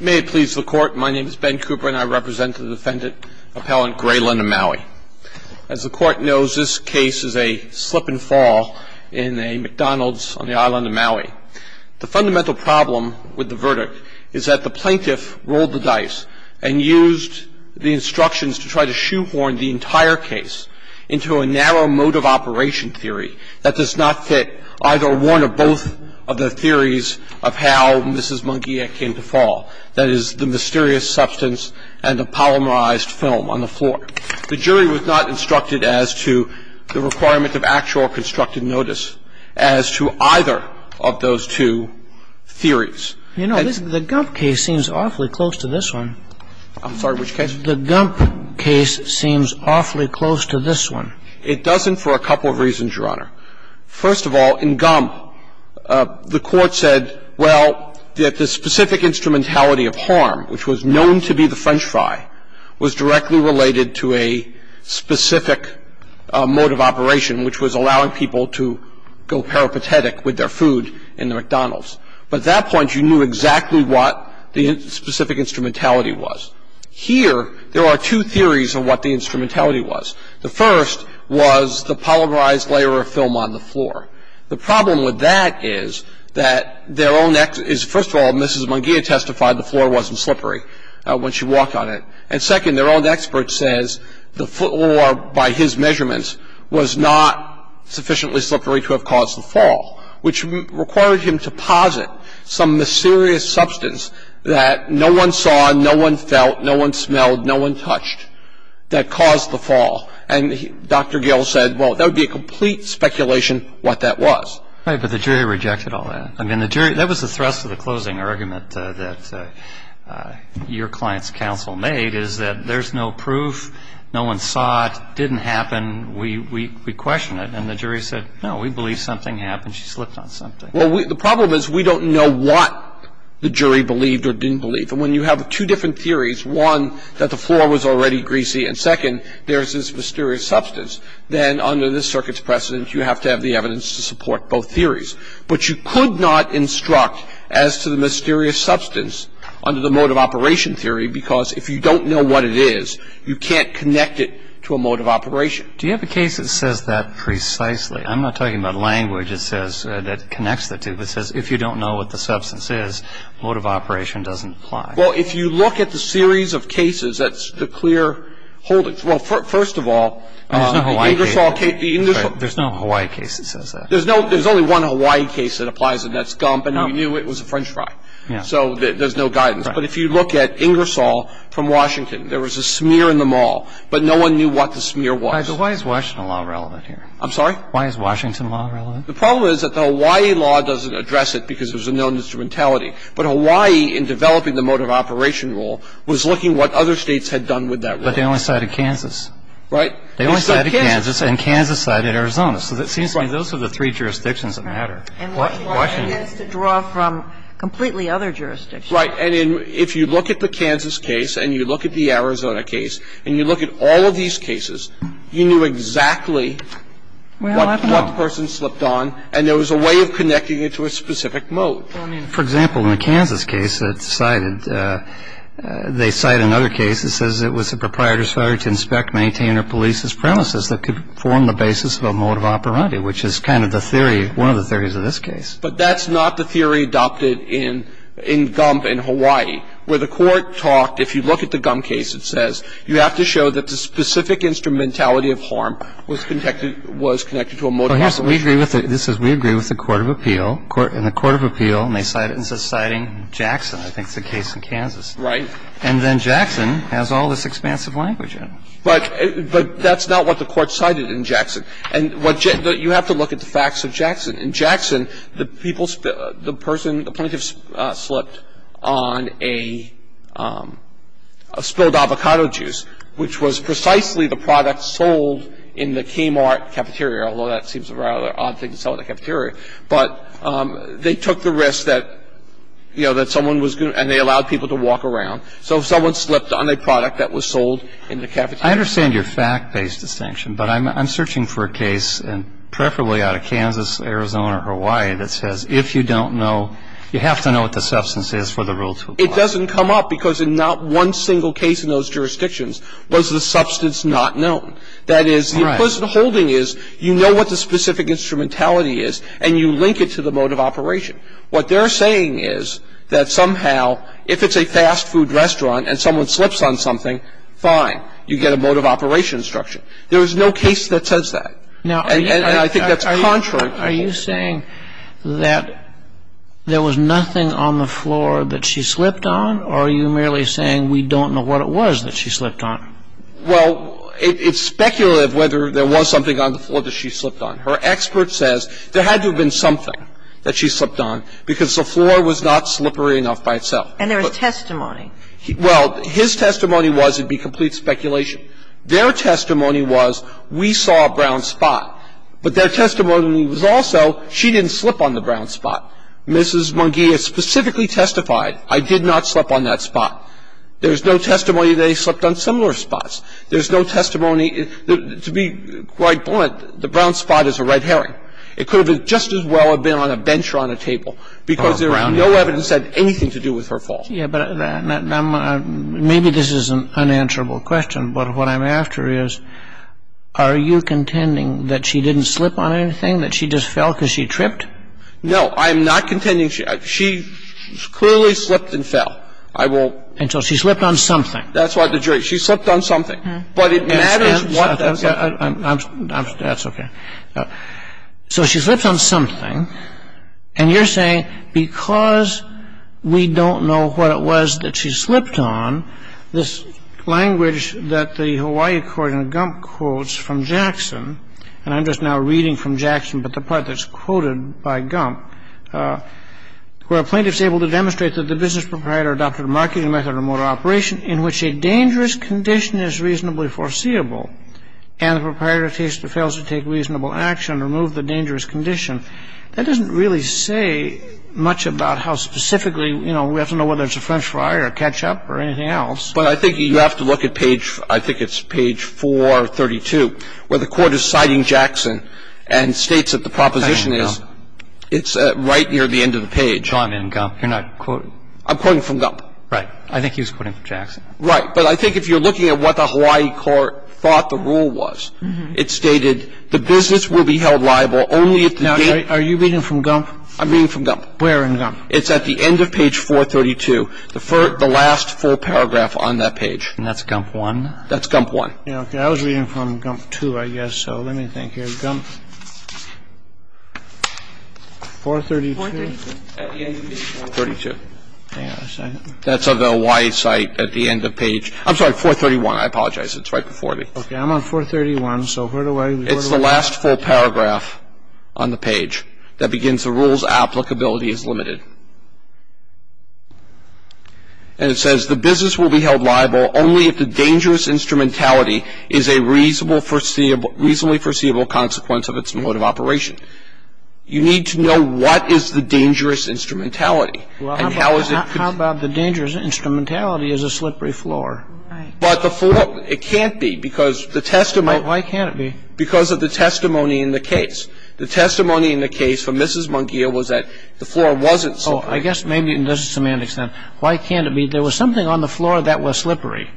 May it please the Court, my name is Ben Cooper and I represent the defendant, Appellant Grelyn of Maui. As the Court knows, this case is a slip and fall in a McDonald's on the island of Maui. The fundamental problem with the verdict is that the plaintiff rolled the dice and used the instructions to try to shoehorn the entire case into a narrow mode of operation theory that does not fit either one or both of the theories of how Mrs. Munguia came to fall. That is, the mysterious substance and the polymerized film on the floor. The jury was not instructed as to the requirement of actual constructed notice as to either of those two theories. You know, the Gump case seems awfully close to this one. I'm sorry, which case? The Gump case seems awfully close to this one. It doesn't for a couple of reasons, Your Honor. First of all, in Gump, the Court said, well, that the specific instrumentality of harm, which was known to be the French fry, was directly related to a specific mode of operation, which was allowing people to go peripatetic with their food in the McDonald's. But at that point, you knew exactly what the specific instrumentality was. Here, there are two theories of what the instrumentality was. The first was the polymerized layer of film on the floor. The problem with that is that their own ex- First of all, Mrs. Munguia testified the floor wasn't slippery when she walked on it. And second, their own expert says the floor, by his measurements, was not sufficiently slippery to have caused the fall, which required him to posit some mysterious substance that no one saw, no one felt, no one smelled, no one touched, that caused the fall. And Dr. Gail said, well, that would be a complete speculation what that was. Right, but the jury rejected all that. I mean, the jury – that was the thrust of the closing argument that your client's counsel made, is that there's no proof, no one saw it, didn't happen, we question it. And the jury said, no, we believe something happened. She slipped on something. Well, the problem is we don't know what the jury believed or didn't believe. And when you have two different theories, one, that the floor was already greasy, and second, there's this mysterious substance, then under this Circuit's precedent, you have to have the evidence to support both theories. But you could not instruct as to the mysterious substance under the mode of operation theory because if you don't know what it is, you can't connect it to a mode of operation. Do you have a case that says that precisely? I'm not talking about language that says – that connects the two, that says if you don't know what the substance is, mode of operation doesn't apply. Well, if you look at the series of cases, that's the clear holdings. Well, first of all, Ingersoll – There's no Hawaii case. There's no Hawaii case that says that. There's only one Hawaii case that applies, and that's Gump, and we knew it was a French fry. So there's no guidance. Right. But if you look at Ingersoll from Washington, there was a smear in the mall, but no one knew what the smear was. Why is Washington law relevant here? I'm sorry? Why is Washington law relevant? The problem is that the Hawaii law doesn't address it because there's a known instrumentality. But Hawaii, in developing the mode of operation rule, was looking what other states had done with that rule. But they only cited Kansas. Right. They only cited Kansas, and Kansas cited Arizona. So it seems to me those are the three jurisdictions that matter. And Washington is to draw from completely other jurisdictions. Right. And if you look at the Kansas case and you look at the Arizona case and you look at all these cases, you knew exactly what person slipped on and there was a way of connecting it to a specific mode. For example, in the Kansas case that's cited, they cite another case that says it was a proprietor's failure to inspect, maintain, or police his premises that could form the basis of a mode of operandi, which is kind of the theory, one of the theories of this case. But that's not the theory adopted in Gump in Hawaii, where the Court talked, if you look at the Gump case, it says you have to show that the specific instrumentality of harm was connected to a mode of operation. This says we agree with the court of appeal. And the court of appeal may cite it, and it says citing Jackson, I think is the case in Kansas. Right. And then Jackson has all this expansive language in it. But that's not what the Court cited in Jackson. And you have to look at the facts of Jackson. In Jackson, the plaintiff slipped on a spilled avocado juice, which was precisely the product sold in the Kmart cafeteria, although that seems a rather odd thing to sell in a cafeteria. But they took the risk that, you know, that someone was going to – and they allowed people to walk around. So if someone slipped on a product that was sold in the cafeteria. I understand your fact-based distinction, but I'm searching for a case, and preferably out of Kansas, Arizona, or Hawaii, that says if you don't know – you have to know what the substance is for the rule to apply. It doesn't come up because in not one single case in those jurisdictions was the substance not known. That is, the implicit holding is you know what the specific instrumentality is, and you link it to the mode of operation. What they're saying is that somehow if it's a fast food restaurant and someone slips on something, fine, you get a mode of operation instruction. There is no case that says that. Now, are you – And I think that's contrary. Are you saying that there was nothing on the floor that she slipped on, or are you merely saying we don't know what it was that she slipped on? Well, it's speculative whether there was something on the floor that she slipped on. Her expert says there had to have been something that she slipped on because the floor was not slippery enough by itself. And there was testimony. Well, his testimony was it would be complete speculation. Their testimony was we saw a brown spot. But their testimony was also she didn't slip on the brown spot. Mrs. Munguia specifically testified, I did not slip on that spot. There's no testimony that they slipped on similar spots. There's no testimony – to be quite blunt, the brown spot is a red herring. It could have just as well have been on a bench or on a table because there was no evidence that had anything to do with her fall. Yeah, but maybe this is an unanswerable question, but what I'm after is are you contending that she didn't slip on anything, that she just fell because she tripped? No, I'm not contending she – she clearly slipped and fell. I will – And so she slipped on something. That's why the jury – she slipped on something. But it matters what – I'm – that's okay. So she slipped on something. And you're saying because we don't know what it was that she slipped on, this language that the Hawaii court in Gump quotes from Jackson – and I'm just now reading from Jackson, but the part that's quoted by Gump – where a plaintiff's able to demonstrate that the business proprietor adopted a marketing method or motor operation in which a dangerous condition is reasonably foreseeable and the proprietor fails to take reasonable action to remove the dangerous condition, that doesn't really say much about how specifically, you know, we have to know whether it's a French fry or ketchup or anything else. But I think you have to look at page – I think it's page 432 where the Court is citing Jackson and states that the proposition is – I'm in Gump. It's right near the end of the page. No, I'm in Gump. You're not quoting – I'm quoting from Gump. Right. I think he was quoting from Jackson. Right. But I think if you're looking at what the Hawaii court thought the rule was, it stated the business will be held liable only if the – Now, are you reading from Gump? I'm reading from Gump. Where in Gump? It's at the end of page 432, the last full paragraph on that page. And that's Gump 1? That's Gump 1. Okay. I was reading from Gump 2, I guess, so let me think here. Gump 432? At the end of page 432. Hang on a second. That's of the Hawaii site at the end of page – I'm sorry, 431. I apologize. It's right before me. Okay. I'm on 431, so where do I – It's the last full paragraph on the page that begins the rules applicability is limited. And it says the business will be held liable only if the dangerous instrumentality is a reasonably foreseeable consequence of its mode of operation. You need to know what is the dangerous instrumentality and how is it – How about the dangerous instrumentality is a slippery floor? Right. But the floor – it can't be because the testimony – Why can't it be? Because of the testimony in the case. The testimony in the case for Mrs. Mungia was that the floor wasn't slippery. Oh, I guess maybe in this semantics then. Why can't it be? There was something on the floor that was slippery.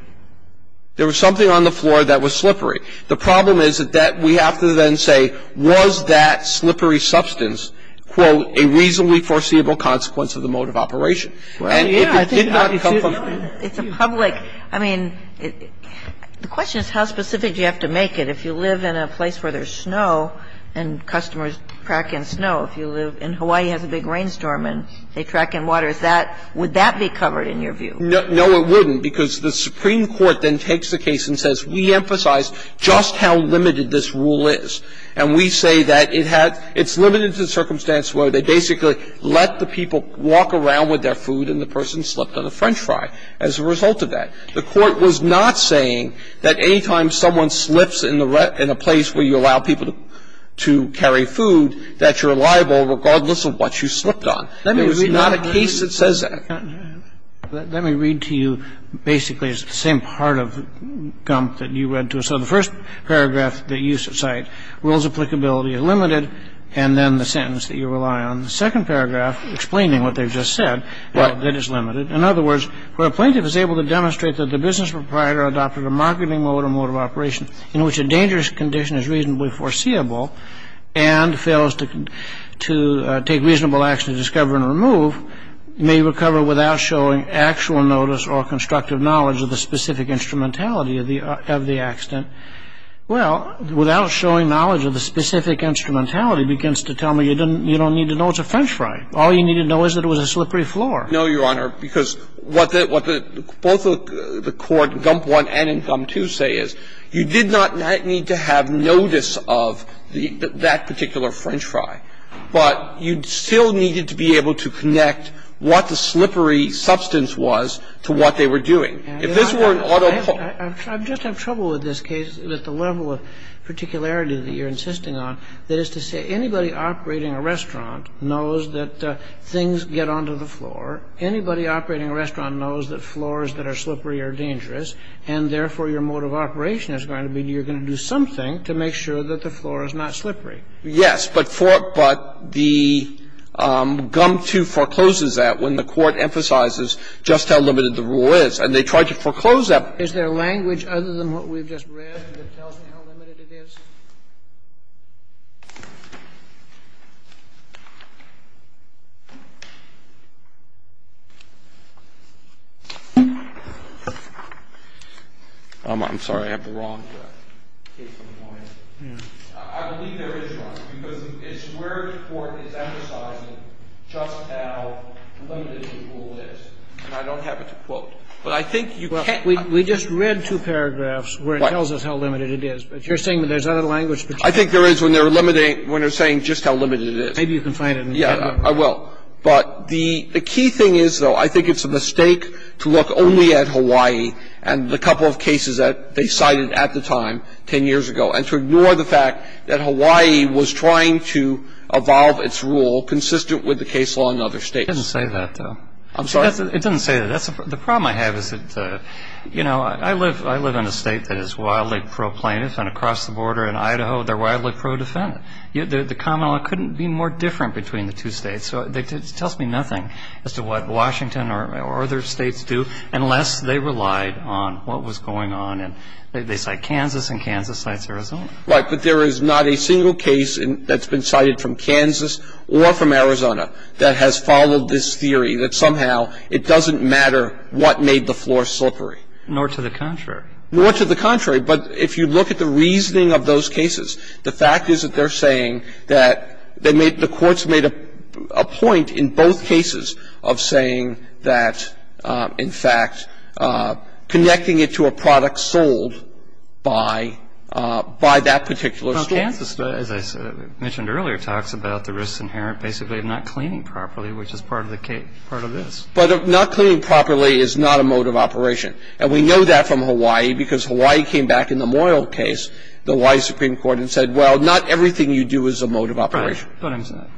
There was something on the floor that was slippery. The problem is that we have to then say, was that slippery substance, quote, a reasonably foreseeable consequence of the mode of operation. And if it did not come from the – It's a public – I mean, the question is how specific do you have to make it. If you live in a place where there's snow and customers track in snow, if you live – and Hawaii has a big rainstorm and they track in water, is that – would that be covered in your view? No, it wouldn't, because the Supreme Court then takes the case and says, we emphasize just how limited this rule is. And we say that it had – it's limited to the circumstance where they basically let the people walk around with their food and the person slipped on a French fry as a result of that. The Court was not saying that any time someone slips in the – in a place where you allow people to carry food, that you're liable regardless of what you slipped on. There was not a case that says that. Let me read to you basically the same part of Gump that you read to us. So the first paragraph that you cite, rules of applicability are limited, and then the sentence that you rely on in the second paragraph explaining what they've just said, well, that it's limited. In other words, where a plaintiff is able to demonstrate that the business proprietor adopted a marketing mode or mode of operation in which a dangerous condition is reasonably foreseeable and fails to take reasonable action to discover and remove, may recover without showing actual notice or constructive knowledge of the specific accident. Well, without showing knowledge of the specific instrumentality begins to tell me you don't need to know it's a French fry. All you need to know is that it was a slippery floor. No, Your Honor, because what the – what both the Court, Gump I and in Gump II, say is you did not need to have notice of that particular French fry, but you still needed to be able to connect what the slippery substance was to what they were doing. If this were an auto – I just have trouble with this case at the level of particularity that you're insisting on, that is to say anybody operating a restaurant knows that things get onto the floor. Anybody operating a restaurant knows that floors that are slippery are dangerous, and therefore your mode of operation is going to be you're going to do something to make sure that the floor is not slippery. Yes. But for – but the Gump II forecloses that when the Court emphasizes just how limited the rule is. And they tried to foreclose that. Is there language other than what we've just read that tells me how limited it is? I'm sorry. I have the wrong case in mind. I believe there is wrong, because it's where the Court is emphasizing just how limited the rule is. And I don't have it to quote. But I think you can't – Well, we just read two paragraphs where it tells us how limited it is. Right. But you're saying that there's other language between them. I think there is when they're limiting – when they're saying just how limited it is. Maybe you can find it in the textbook. Yeah, I will. But the key thing is, though, I think it's a mistake to look only at Hawaii and the couple of cases that they cited at the time, 10 years ago, and to ignore the fact that Hawaii was trying to evolve its rule consistent with the case law in other States. It doesn't say that, though. I'm sorry? It doesn't say that. The problem I have is that, you know, I live in a State that is wildly pro-plaintiff, and across the border in Idaho, they're wildly pro-defendant. The common law couldn't be more different between the two States. So it tells me nothing as to what Washington or other States do unless they relied on what was going on. And they cite Kansas, and Kansas cites Arizona. Right. But there is not a single case that's been cited from Kansas or from Arizona that has followed this theory, that somehow it doesn't matter what made the floor slippery. Nor to the contrary. Nor to the contrary. But if you look at the reasoning of those cases, the fact is that they're saying that the courts made a point in both cases of saying that, in fact, connecting it to a product sold by that particular store. Well, Kansas, as I mentioned earlier, talks about the risks inherent basically of not cleaning properly, which is part of this. But not cleaning properly is not a mode of operation. And we know that from Hawaii, because Hawaii came back in the Moyle case, the Hawaii Supreme Court, and said, well, not everything you do is a mode of operation. Right. That's what I'm saying.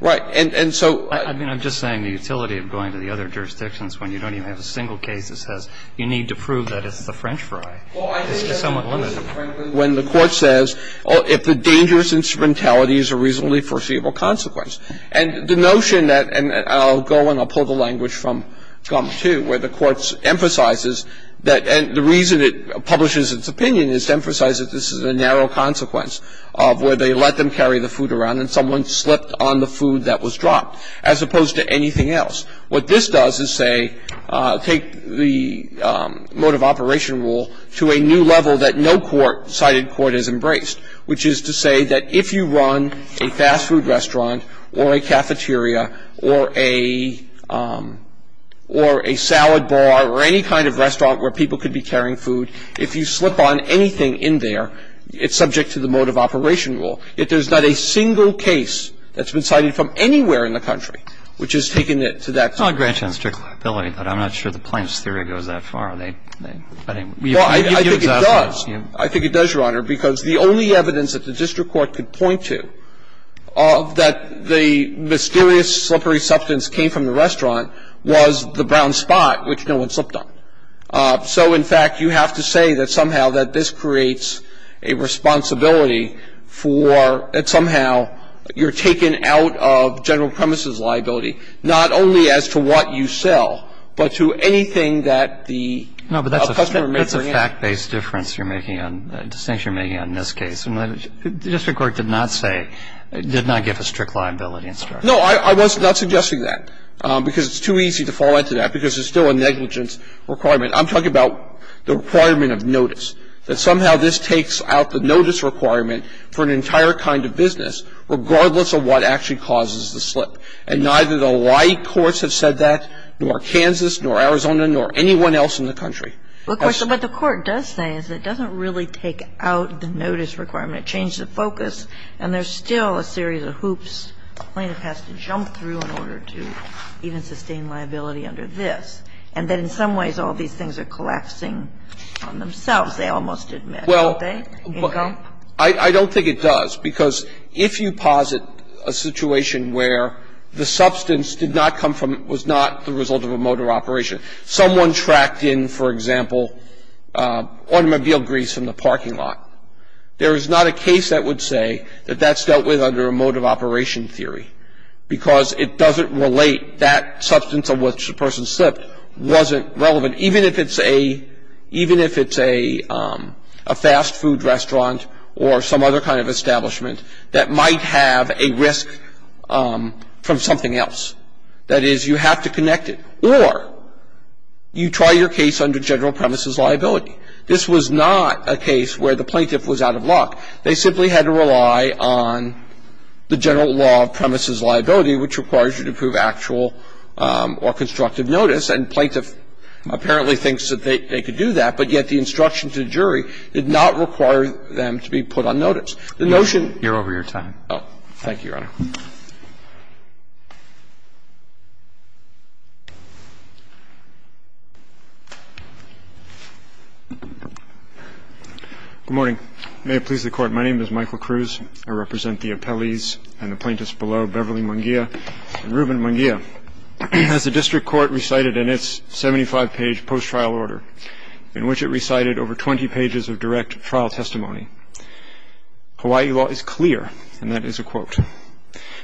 Right. And so. I mean, I'm just saying the utility of going to the other jurisdictions when you don't even have a single case that says you need to prove that it's the French fry. It's just somewhat limited. And I think that's a reasonable consequence, frankly, when the Court says, if the dangerous instrumentality is a reasonably foreseeable consequence. And the notion that – and I'll go and I'll pull the language from Gump, too, where the Court emphasizes that – and the reason it publishes its opinion is to emphasize that this is a narrow consequence of where they let them carry the food around and someone slipped on the food that was dropped, as opposed to anything else. What this does is say – take the mode of operation rule to a new level that no court, cited court, has embraced, which is to say that if you run a fast food restaurant or a cafeteria or a salad bar or any kind of restaurant where people could be carrying food, if you slip on anything in there, it's subject to the mode of operation rule. Yet there's not a single case that's been cited from anywhere in the country which has taken it to that point. But I'm not sure the plaintiff's theory goes that far. Well, I think it does. I think it does, Your Honor, because the only evidence that the district court could point to of that the mysterious, slippery substance came from the restaurant was the brown spot, which no one slipped on. So, in fact, you have to say that somehow that this creates a responsibility for – that somehow you're taken out of general premises liability, not only as to what you sell, but to anything that the customer may bring in. No, but that's a fact-based difference you're making on – distinction you're making on this case. The district court did not say – did not give a strict liability instruction. No. I was not suggesting that, because it's too easy to fall into that, because it's still a negligence requirement. I'm talking about the requirement of notice, that somehow this takes out the notice requirement for an entire kind of business, regardless of what actually causes the slip. And neither the Hawaii courts have said that, nor Kansas, nor Arizona, nor anyone else in the country. Of course, but the court does say is it doesn't really take out the notice requirement. It changes the focus, and there's still a series of hoops the plaintiff has to jump through in order to even sustain liability under this. And that in some ways, all these things are collapsing on themselves. They almost admit, don't they, Incomp? Well, I don't think it does, because if you posit a situation where the substance did not come from – was not the result of a motor operation, someone tracked in, for example, automobile grease from the parking lot, there is not a case that would say that that's dealt with under a mode of operation theory, because it doesn't relate, that substance of which the person slipped wasn't relevant. Even if it's a – even if it's a fast food restaurant or some other kind of establishment that might have a risk from something else. That is, you have to connect it. Or you try your case under general premises liability. This was not a case where the plaintiff was out of luck. They simply had to rely on the general law of premises liability, which requires you to prove actual or constructive notice. And plaintiff apparently thinks that they could do that, but yet the instruction to the jury did not require them to be put on notice. The notion – You're over your time. Thank you, Your Honor. Good morning. May it please the Court. My name is Michael Cruz. I represent the appellees and the plaintiffs below, Beverly Mangia and Reuben Mangia. As the district court recited in its 75-page post-trial order, in which it recited over 20 pages of direct trial testimony, Hawaii law is clear, and that is a quote,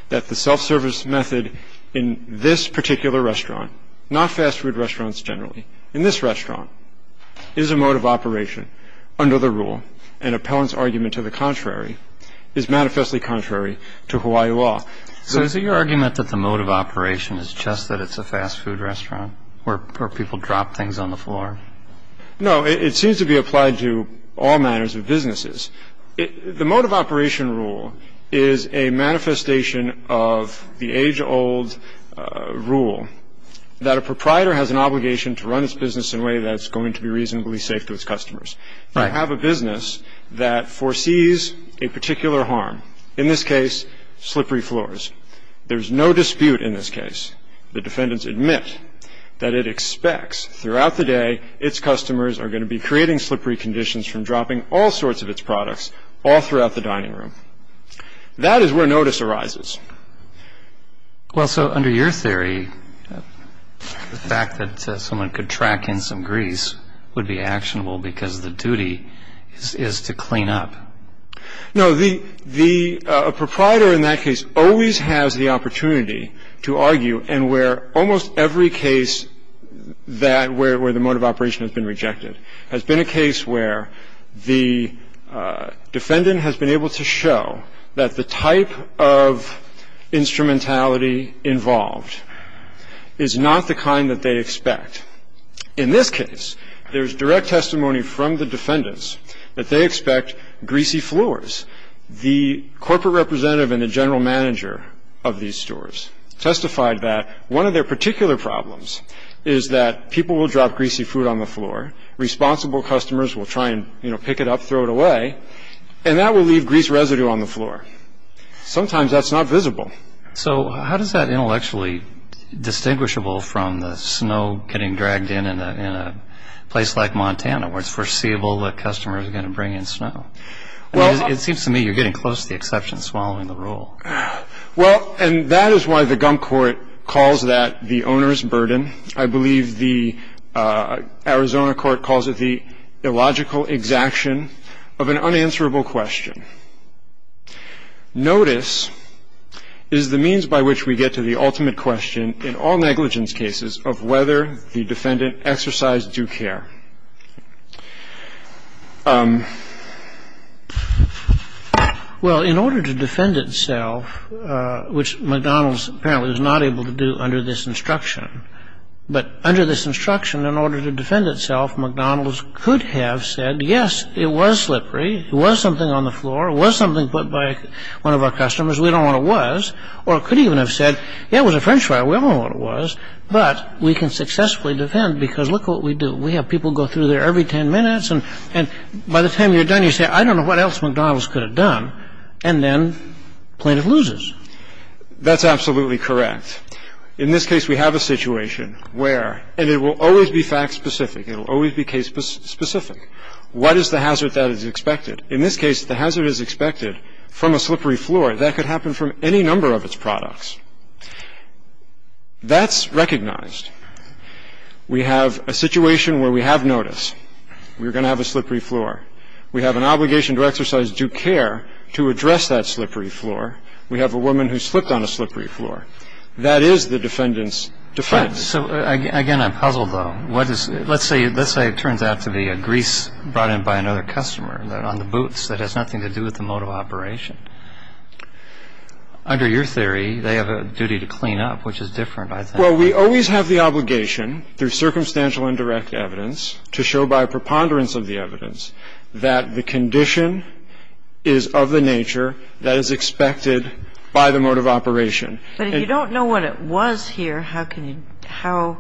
that the self-service method in this particular restaurant, not fast food restaurants generally, in this restaurant, is a mode of operation under the rule, and appellant's argument to the contrary is manifestly contrary to Hawaii law. So is it your argument that the mode of operation is just that it's a fast food restaurant where people drop things on the floor? No, it seems to be applied to all manners of businesses. The mode of operation rule is a manifestation of the age-old rule that a proprietor has an obligation to run its business in a way that's going to be reasonably safe to its customers. Right. If you have a business that foresees a particular harm, in this case, slippery floors, there's no dispute in this case. The defendants admit that it expects throughout the day its customers are going to be creating slippery conditions from dropping all sorts of its products all throughout the dining room. That is where notice arises. Well, so under your theory, the fact that someone could track in some grease would be actionable because the duty is to clean up. No. The proprietor in that case always has the opportunity to argue and where almost every case that where the mode of operation has been rejected has been a case where the defendant has been able to show that the type of instrumentality involved is not the kind that they expect. In this case, there's direct testimony from the defendants that they expect greasy floors. The corporate representative and the general manager of these stores testified that one of their particular problems is that people will drop greasy food on the floor, responsible customers will try and, you know, pick it up, throw it away, and that will leave grease residue on the floor. Sometimes that's not visible. So how does that intellectually distinguishable from the snow getting dragged in in a place like Montana where it's foreseeable that customers are going to bring in snow? It seems to me you're getting close to the exception of swallowing the rule. Well, and that is why the gum court calls that the owner's burden. I believe the Arizona court calls it the illogical exaction of an unanswerable question. Notice is the means by which we get to the ultimate question in all negligence cases of whether the defendant exercised due care. Well, in order to defend itself, which McDonald's apparently was not able to do under this instruction, but under this instruction in order to defend itself, McDonald's could have said, yes, it was slippery, it was something on the floor, it was something put by one of our customers, we don't know what it was, or it could even have said, yeah, it was a French fry, we don't know what it was, but we can successfully defend because look what we do. We have people go through there every 10 minutes, and by the time you're done, you say, I don't know what else McDonald's could have done, and then plaintiff loses. That's absolutely correct. In this case, we have a situation where, and it will always be fact-specific, it will always be case-specific. What is the hazard that is expected? In this case, the hazard is expected from a slippery floor. That could happen from any number of its products. That's recognized. We have a situation where we have notice. We're going to have a slippery floor. We have an obligation to exercise due care to address that slippery floor. We have a woman who slipped on a slippery floor. That is the defendant's defense. So, again, I'm puzzled, though. Let's say it turns out to be a grease brought in by another customer on the boots that has nothing to do with the mode of operation. Under your theory, they have a duty to clean up, which is different, I think. Well, we always have the obligation through circumstantial and direct evidence to show by preponderance of the evidence that the condition is of the nature that is expected by the mode of operation. But if you don't know what it was here, how can you – how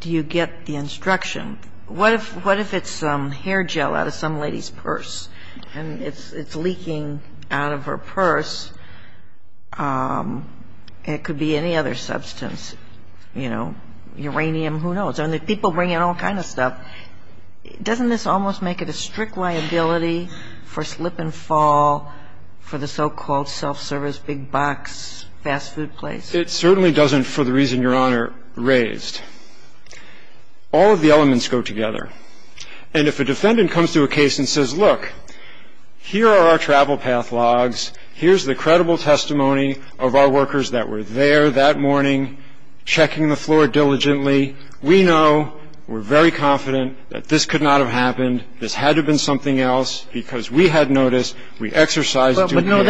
do you get the instruction? What if it's hair gel out of some lady's purse and it's leaking out of her purse? It could be any other substance. You know, uranium, who knows? I mean, people bring in all kind of stuff. Doesn't this almost make it a strict liability for slip and fall for the so-called self-service big box fast food place? It certainly doesn't for the reason Your Honor raised. All of the elements go together. And if a defendant comes to a case and says, look, here are our travel path logs, here's the credible testimony of our workers that were there that morning checking the floor diligently, we know, we're very confident that this could not have happened, this had to have been something else, because we had notice, we exercised the duty. But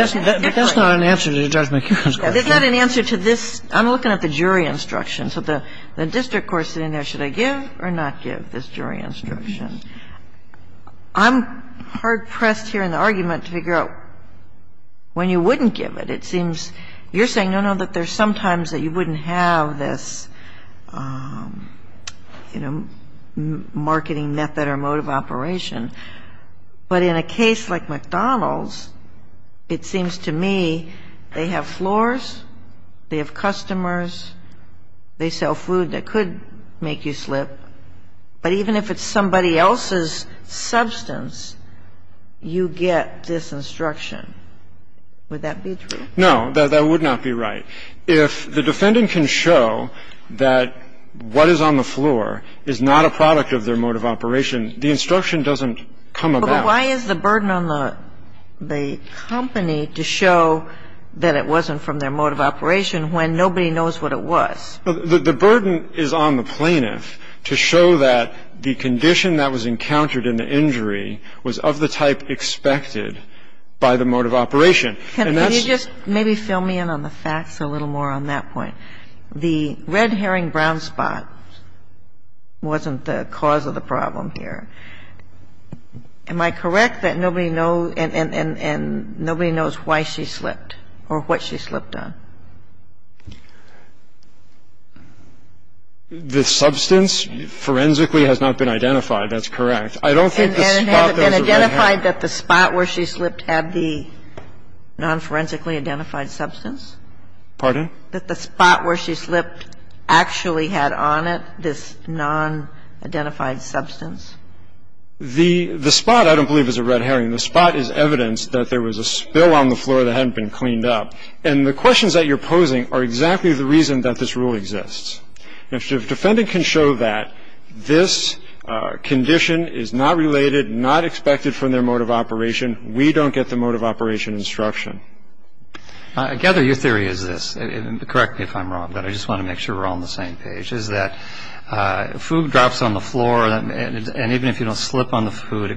that's not an answer to Judge McHugh's question. It's not an answer to this. I'm looking at the jury instruction. So the district court's sitting there, should I give or not give this jury instruction? I'm hard-pressed here in the argument to figure out when you wouldn't give it. It seems you're saying, no, no, that there's sometimes that you wouldn't have this, you know, marketing method or mode of operation. But in a case like McDonald's, it seems to me they have floors, they have customers, they sell food that could make you slip. But even if it's somebody else's substance, you get this instruction. Would that be true? No. That would not be right. If the defendant can show that what is on the floor is not a product of their mode of operation, the instruction doesn't come about. But why is the burden on the company to show that it wasn't from their mode of operation when nobody knows what it was? The burden is on the plaintiff to show that the condition that was encountered in the injury was of the type expected by the mode of operation. And that's the reason why the plaintiff was not able to show that it was a product of their mode of operation. Can you just maybe fill me in on the facts a little more on that point? The red herring brown spot wasn't the cause of the problem here. Am I correct that nobody knows and nobody knows why she slipped or what she slipped on? The substance forensically has not been identified. That's correct. I don't think the spot is a red herring. And has it been identified that the spot where she slipped had the non-forensically identified substance? Pardon? That the spot where she slipped actually had on it this non-identified substance? The spot I don't believe is a red herring. The spot is evidence that there was a spill on the floor that hadn't been cleaned up. And the questions that you're posing are exactly the reason that this rule exists. If the defendant can show that this condition is not related, not expected from their mode of operation, we don't get the mode of operation instruction. I gather your theory is this, and correct me if I'm wrong, but I just want to make sure we're all on the same page, is that food drops on the floor and even if you don't slip on the food,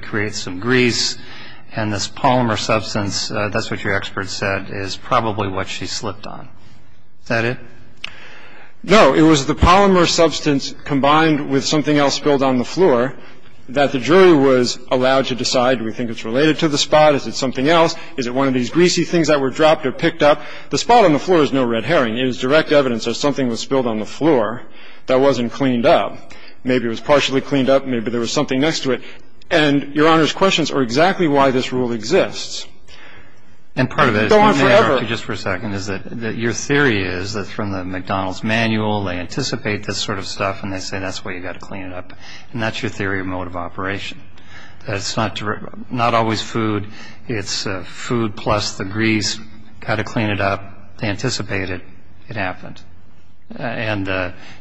and this polymer substance, that's what your expert said, is probably what she slipped on. Is that it? No. It was the polymer substance combined with something else spilled on the floor that the jury was allowed to decide, do we think it's related to the spot, is it something else, is it one of these greasy things that were dropped or picked up? The spot on the floor is no red herring. It is direct evidence that something was spilled on the floor that wasn't cleaned up. Maybe it was partially cleaned up, maybe there was something next to it. And your Honor's questions are exactly why this rule exists. Go on forever. And part of it, if you may, Archie, just for a second, is that your theory is that from the McDonald's manual they anticipate this sort of stuff and they say that's why you've got to clean it up. And that's your theory of mode of operation, that it's not always food, it's food plus the grease, got to clean it up, they anticipate it, it happened. And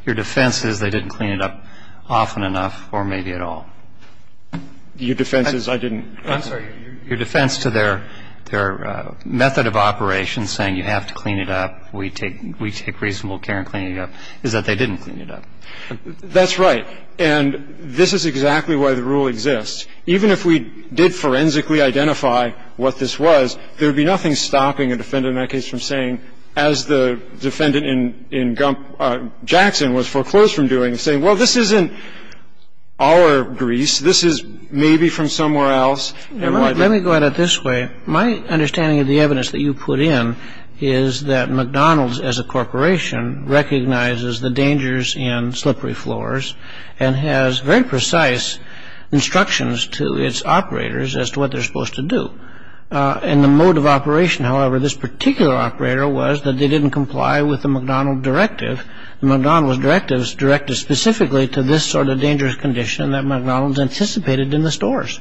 your defense is they didn't clean it up often enough or maybe at all. Your defense is I didn't. I'm sorry. Your defense to their method of operation saying you have to clean it up, we take reasonable care in cleaning it up, is that they didn't clean it up. That's right. And this is exactly why the rule exists. Even if we did forensically identify what this was, there would be nothing stopping a defendant in that case from saying, as the defendant in Jackson was foreclosed from doing, saying, well, this isn't our grease. This is maybe from somewhere else. Let me go at it this way. My understanding of the evidence that you put in is that McDonald's, as a corporation, recognizes the dangers in slippery floors and has very precise instructions to its operators as to what they're supposed to do. In the mode of operation, however, this particular operator was that they didn't comply with the McDonald directive. The McDonald directive is directed specifically to this sort of dangerous condition that McDonald's anticipated in the stores.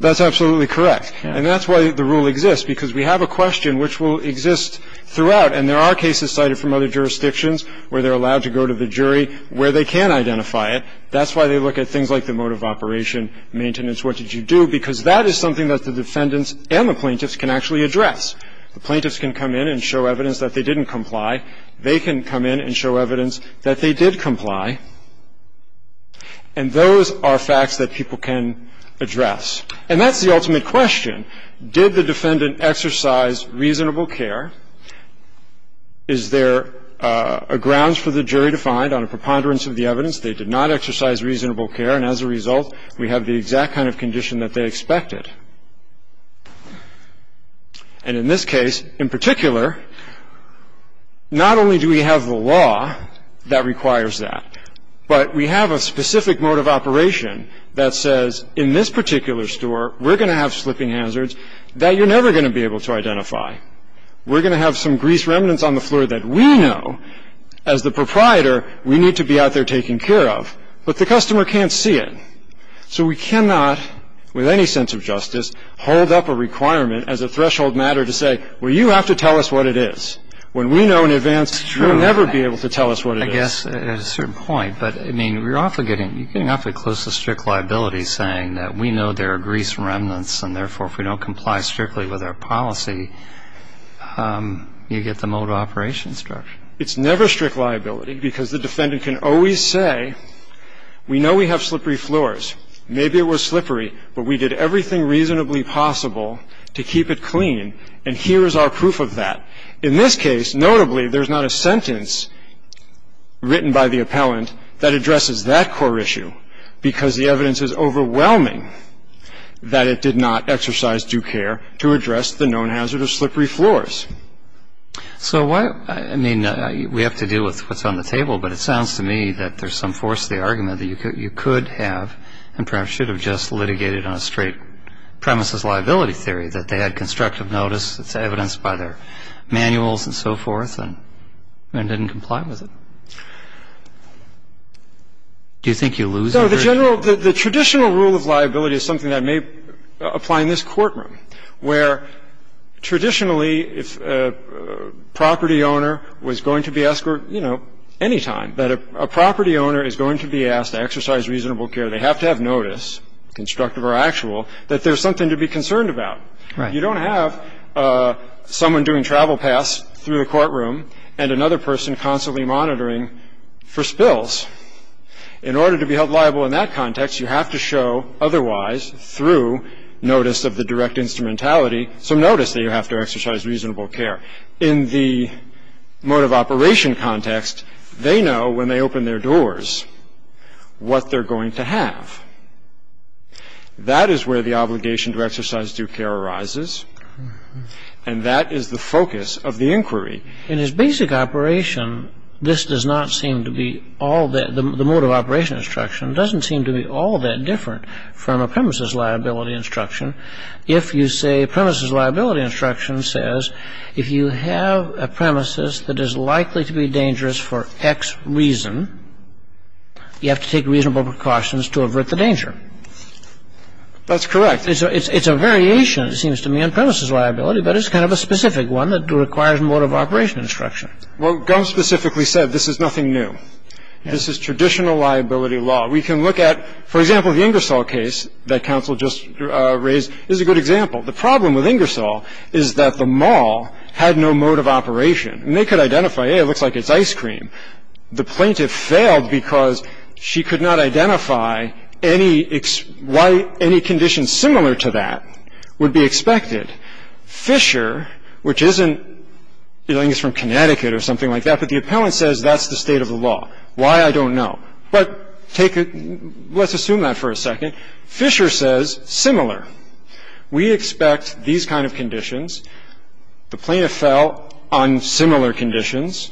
That's absolutely correct. And that's why the rule exists, because we have a question which will exist throughout. And there are cases cited from other jurisdictions where they're allowed to go to the jury where they can identify it. That's why they look at things like the mode of operation, maintenance, what did you do, because that is something that the defendants and the plaintiffs can actually address. The plaintiffs can come in and show evidence that they didn't comply. They can come in and show evidence that they did comply. And those are facts that people can address. And that's the ultimate question. Did the defendant exercise reasonable care? Is there a grounds for the jury to find on a preponderance of the evidence they did not exercise reasonable care? And as a result, we have the exact kind of condition that they expected. And in this case, in particular, not only do we have the law that requires that, but we have a specific mode of operation that says in this particular store, we're going to have slipping hazards that you're never going to be able to identify. We're going to have some grease remnants on the floor that we know, as the proprietor, we need to be out there taking care of. But the customer can't see it. So we cannot, with any sense of justice, hold up a requirement as a threshold matter to say, well, you have to tell us what it is. When we know in advance, you'll never be able to tell us what it is. I guess at a certain point. But, I mean, you're getting awfully close to strict liability, saying that we know there are grease remnants and, therefore, if we don't comply strictly with our policy, you get the mode of operation structure. It's never strict liability, because the defendant can always say, we know we have slippery floors. Maybe it was slippery, but we did everything reasonably possible to keep it clean, and here is our proof of that. In this case, notably, there's not a sentence written by the appellant that addresses that core issue, because the evidence is overwhelming that it did not exercise due care to address the known hazard of slippery floors. So why, I mean, we have to deal with what's on the table, but it sounds to me that there's some force to the argument that you could have and perhaps should have just litigated on a straight premises liability theory, that they had constructive notice, it's evidenced by their manuals and so forth, and didn't comply with it. Do you think you lose? No. The general, the traditional rule of liability is something that may apply in this case. If a property owner was going to be asked, you know, anytime that a property owner is going to be asked to exercise reasonable care, they have to have notice, constructive or actual, that there's something to be concerned about. Right. You don't have someone doing travel pass through the courtroom and another person constantly monitoring for spills. In order to be held liable in that context, you have to show, otherwise, through notice of the direct instrumentality, some notice that you have to exercise reasonable care. In the mode of operation context, they know when they open their doors what they're going to have. That is where the obligation to exercise due care arises, and that is the focus of the inquiry. In his basic operation, this does not seem to be all that, the mode of operation instruction doesn't seem to be all that different from a premises liability instruction. If you say premises liability instruction says, if you have a premises that is likely to be dangerous for X reason, you have to take reasonable precautions to avert the danger. That's correct. It's a variation, it seems to me, on premises liability, but it's kind of a specific one that requires mode of operation instruction. Well, Gump specifically said this is nothing new. This is traditional liability law. We can look at, for example, the Ingersoll case that counsel just raised is a good example. The problem with Ingersoll is that the mall had no mode of operation, and they could identify, hey, it looks like it's ice cream. The plaintiff failed because she could not identify any why any condition similar to that would be expected. Fisher, which isn't, I think it's from Connecticut or something like that, but the appellant says that's the state of the law. Why, I don't know. But let's assume that for a second. Fisher says similar. We expect these kind of conditions. The plaintiff fell on similar conditions.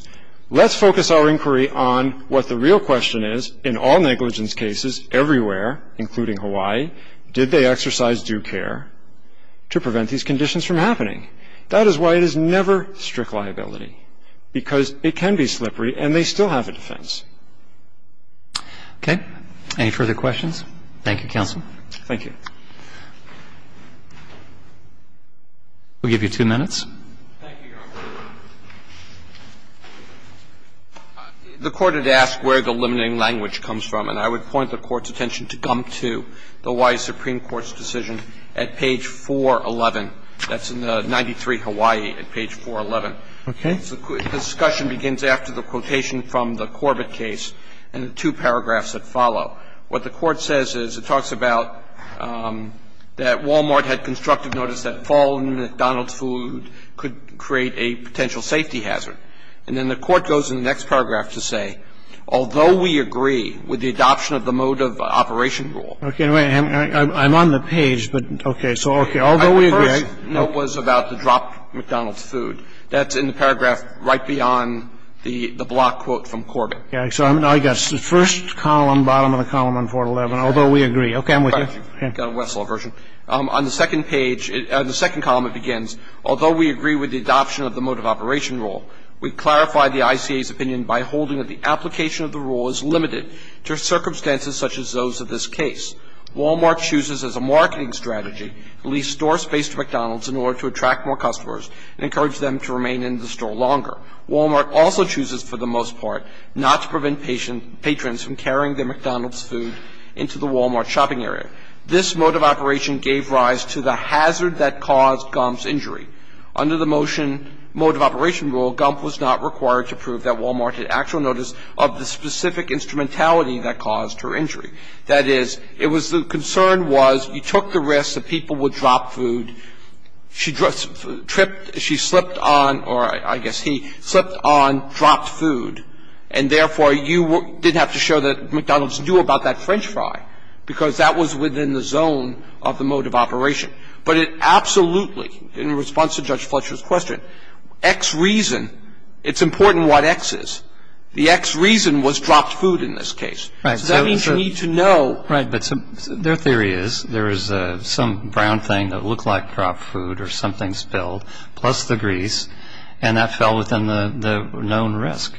Let's focus our inquiry on what the real question is in all negligence cases everywhere, including Hawaii, did they exercise due care to prevent these conditions from happening? That is why it is never strict liability, because it can be slippery and they still have a defense. Roberts. Okay. Any further questions? Thank you, counsel. Thank you. We'll give you two minutes. Thank you, Your Honor. The Court had asked where the limiting language comes from, and I would point the Court's attention to gum to the Hawaii Supreme Court's decision at page 411. That's in the 93 Hawaii at page 411. Okay. The court says that there is no such thing as a drop McDonald's food. The discussion begins after the quotation from the Corbett case and the two paragraphs that follow. What the Court says is it talks about that Walmart had constructive notice that falling McDonald's food could create a potential safety hazard. And then the Court goes in the next paragraph to say, although we agree with the adoption of the mode of operation rule. Okay. I'm on the page, but okay. So, okay. Although we agree. The first note was about the drop McDonald's food. That's in the paragraph right beyond the block quote from Corbett. Okay. So I've got the first column, bottom of the column on 411, although we agree. Okay. I'm with you. Okay. I've got a Westlaw version. On the second page, on the second column it begins, although we agree with the adoption of the mode of operation rule, we clarify the ICA's opinion by holding that the application of the rule is limited to circumstances such as those of this case. Walmart chooses as a marketing strategy to leave store space to McDonald's in order to attract more customers and encourage them to remain in the store longer. Walmart also chooses for the most part not to prevent patrons from carrying their McDonald's food into the Walmart shopping area. This mode of operation gave rise to the hazard that caused Gomp's injury. Under the motion, mode of operation rule, Gomp was not required to prove that Walmart had actual notice of the specific instrumentality that caused her injury. That is, it was the concern was you took the risk that people would drop food. She tripped, she slipped on, or I guess he slipped on, dropped food, and therefore you didn't have to show that McDonald's knew about that french fry, because that was within the zone of the mode of operation. But it absolutely, in response to Judge Fletcher's question, X reason, it's important what X is. The X reason was dropped food in this case. So that means you need to know. Right. But their theory is there is some brown thing that looked like dropped food or something spilled, plus the grease, and that fell within the known risk.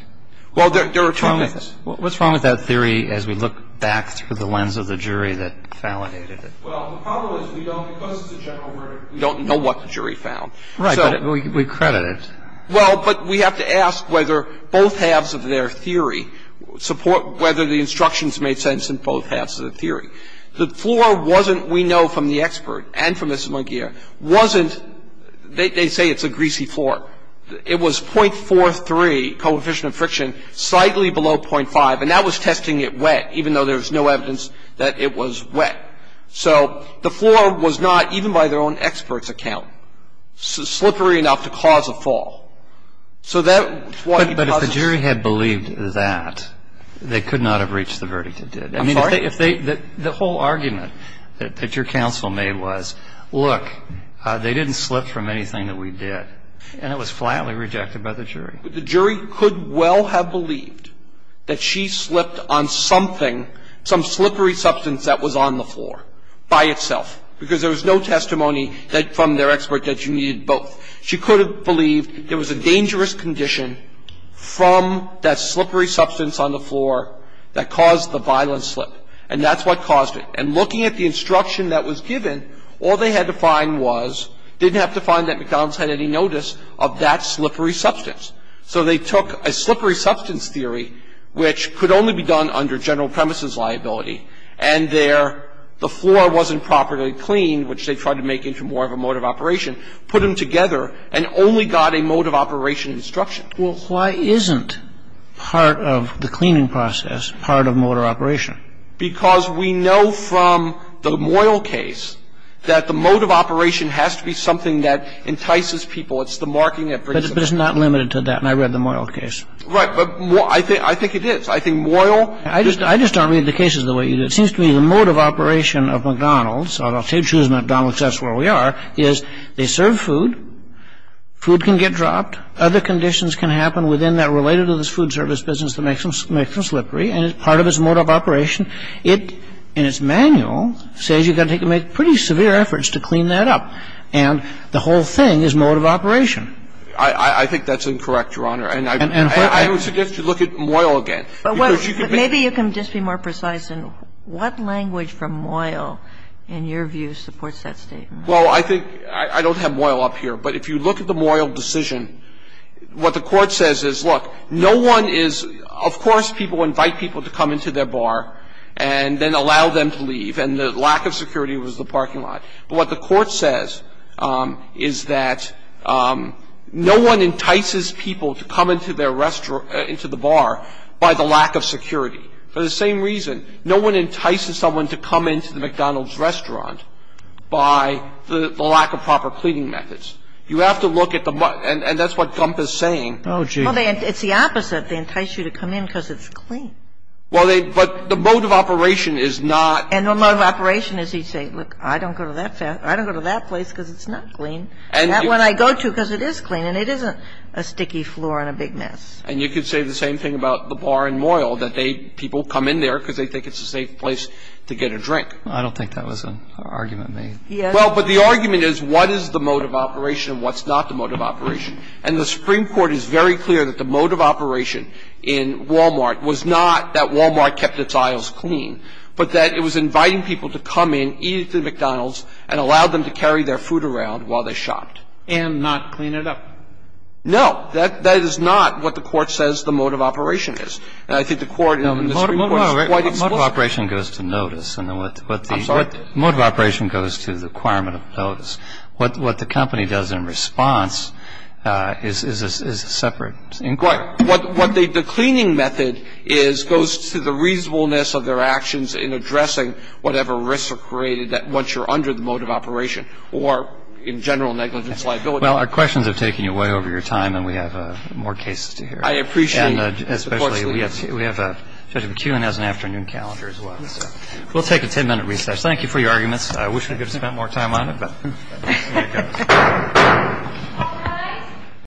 Well, there are two methods. What's wrong with that theory as we look back through the lens of the jury that validated it? Well, the problem is we don't, because it's a general verdict, we don't know what the jury found. Right. But we credit it. Well, but we have to ask whether both halves of their theory support whether the instructions made sense in both halves of the theory. The floor wasn't, we know from the expert and from Ms. McGeer, wasn't, they say it's a greasy floor. It was 0.43 coefficient of friction, slightly below 0.5, and that was testing it wet, even though there was no evidence that it was wet. So the floor was not, even by their own expert's account, slippery enough to cause a fall. So that's why he causes it. But if the jury had believed that, they could not have reached the verdict it did. I'm sorry? I mean, if they, the whole argument that your counsel made was, look, they didn't slip from anything that we did, and it was flatly rejected by the jury. The jury could well have believed that she slipped on something, some slippery substance that was on the floor by itself, because there was no testimony from their expert that you needed both. She could have believed there was a dangerous condition from that slippery substance on the floor that caused the violent slip, and that's what caused it. And looking at the instruction that was given, all they had to find was, didn't have to find that McDonald's had any notice of that slippery substance. So they took a slippery substance theory, which could only be done under general premises liability, and their, the floor wasn't properly cleaned, which they tried to make into more of a mode of operation, put them together and only got a mode of operation instruction. Well, why isn't part of the cleaning process part of mode of operation? Because we know from the Moyle case that the mode of operation has to be something that entices people. It's the marking that brings it. But it's not limited to that. And I read the Moyle case. Right. But I think it is. I think Moyle. I just don't read the cases the way you do. It seems to me the mode of operation of McDonald's, and I'll say choose McDonald's, that's where we are, is they serve food. Food can get dropped. Other conditions can happen within that related to this food service business that makes them slippery. And part of its mode of operation, it, in its manual, says you've got to make pretty severe efforts to clean that up. And the whole thing is mode of operation. I think that's incorrect, Your Honor. And I would suggest you look at Moyle again. But maybe you can just be more precise in what language from Moyle, in your view, supports that statement? Well, I think I don't have Moyle up here. But if you look at the Moyle decision, what the Court says is, look, no one is of course people invite people to come into their bar and then allow them to leave. And the lack of security was the parking lot. But what the Court says is that no one entices people to come into their restaurant or into the bar by the lack of security. For the same reason, no one entices someone to come into the McDonald's restaurant by the lack of proper cleaning methods. You have to look at the, and that's what Gump is saying. Oh, gee. Well, it's the opposite. They entice you to come in because it's clean. Well, they, but the mode of operation is not. And the mode of operation is you say, look, I don't go to that place because it's not clean. And that one I go to because it is clean and it isn't a sticky floor and a big mess. And you could say the same thing about the bar in Moyle, that they, people come in there because they think it's a safe place to get a drink. I don't think that was an argument made. Yes. Well, but the argument is what is the mode of operation and what's not the mode of operation. And the Supreme Court is very clear that the mode of operation in Walmart was not that Walmart kept its aisles clean, but that it was inviting people to come in, eat at the McDonald's, and allow them to carry their food around while they shopped. And not clean it up. No. That is not what the Court says the mode of operation is. And I think the Court in the Supreme Court is quite explicit. The mode of operation goes to notice. I'm sorry? The mode of operation goes to the requirement of notice. What the company does in response is a separate inquiry. So what the cleaning method is goes to the reasonableness of their actions in addressing whatever risks are created that once you're under the mode of operation or in general negligence liability. Well, our questions have taken you way over your time, and we have more cases to hear. I appreciate it. And especially we have Judge McKeown has an afternoon calendar as well. We'll take a 10-minute recess. Thank you for your arguments. I wish we could have spent more time on it, but here it goes. All rise.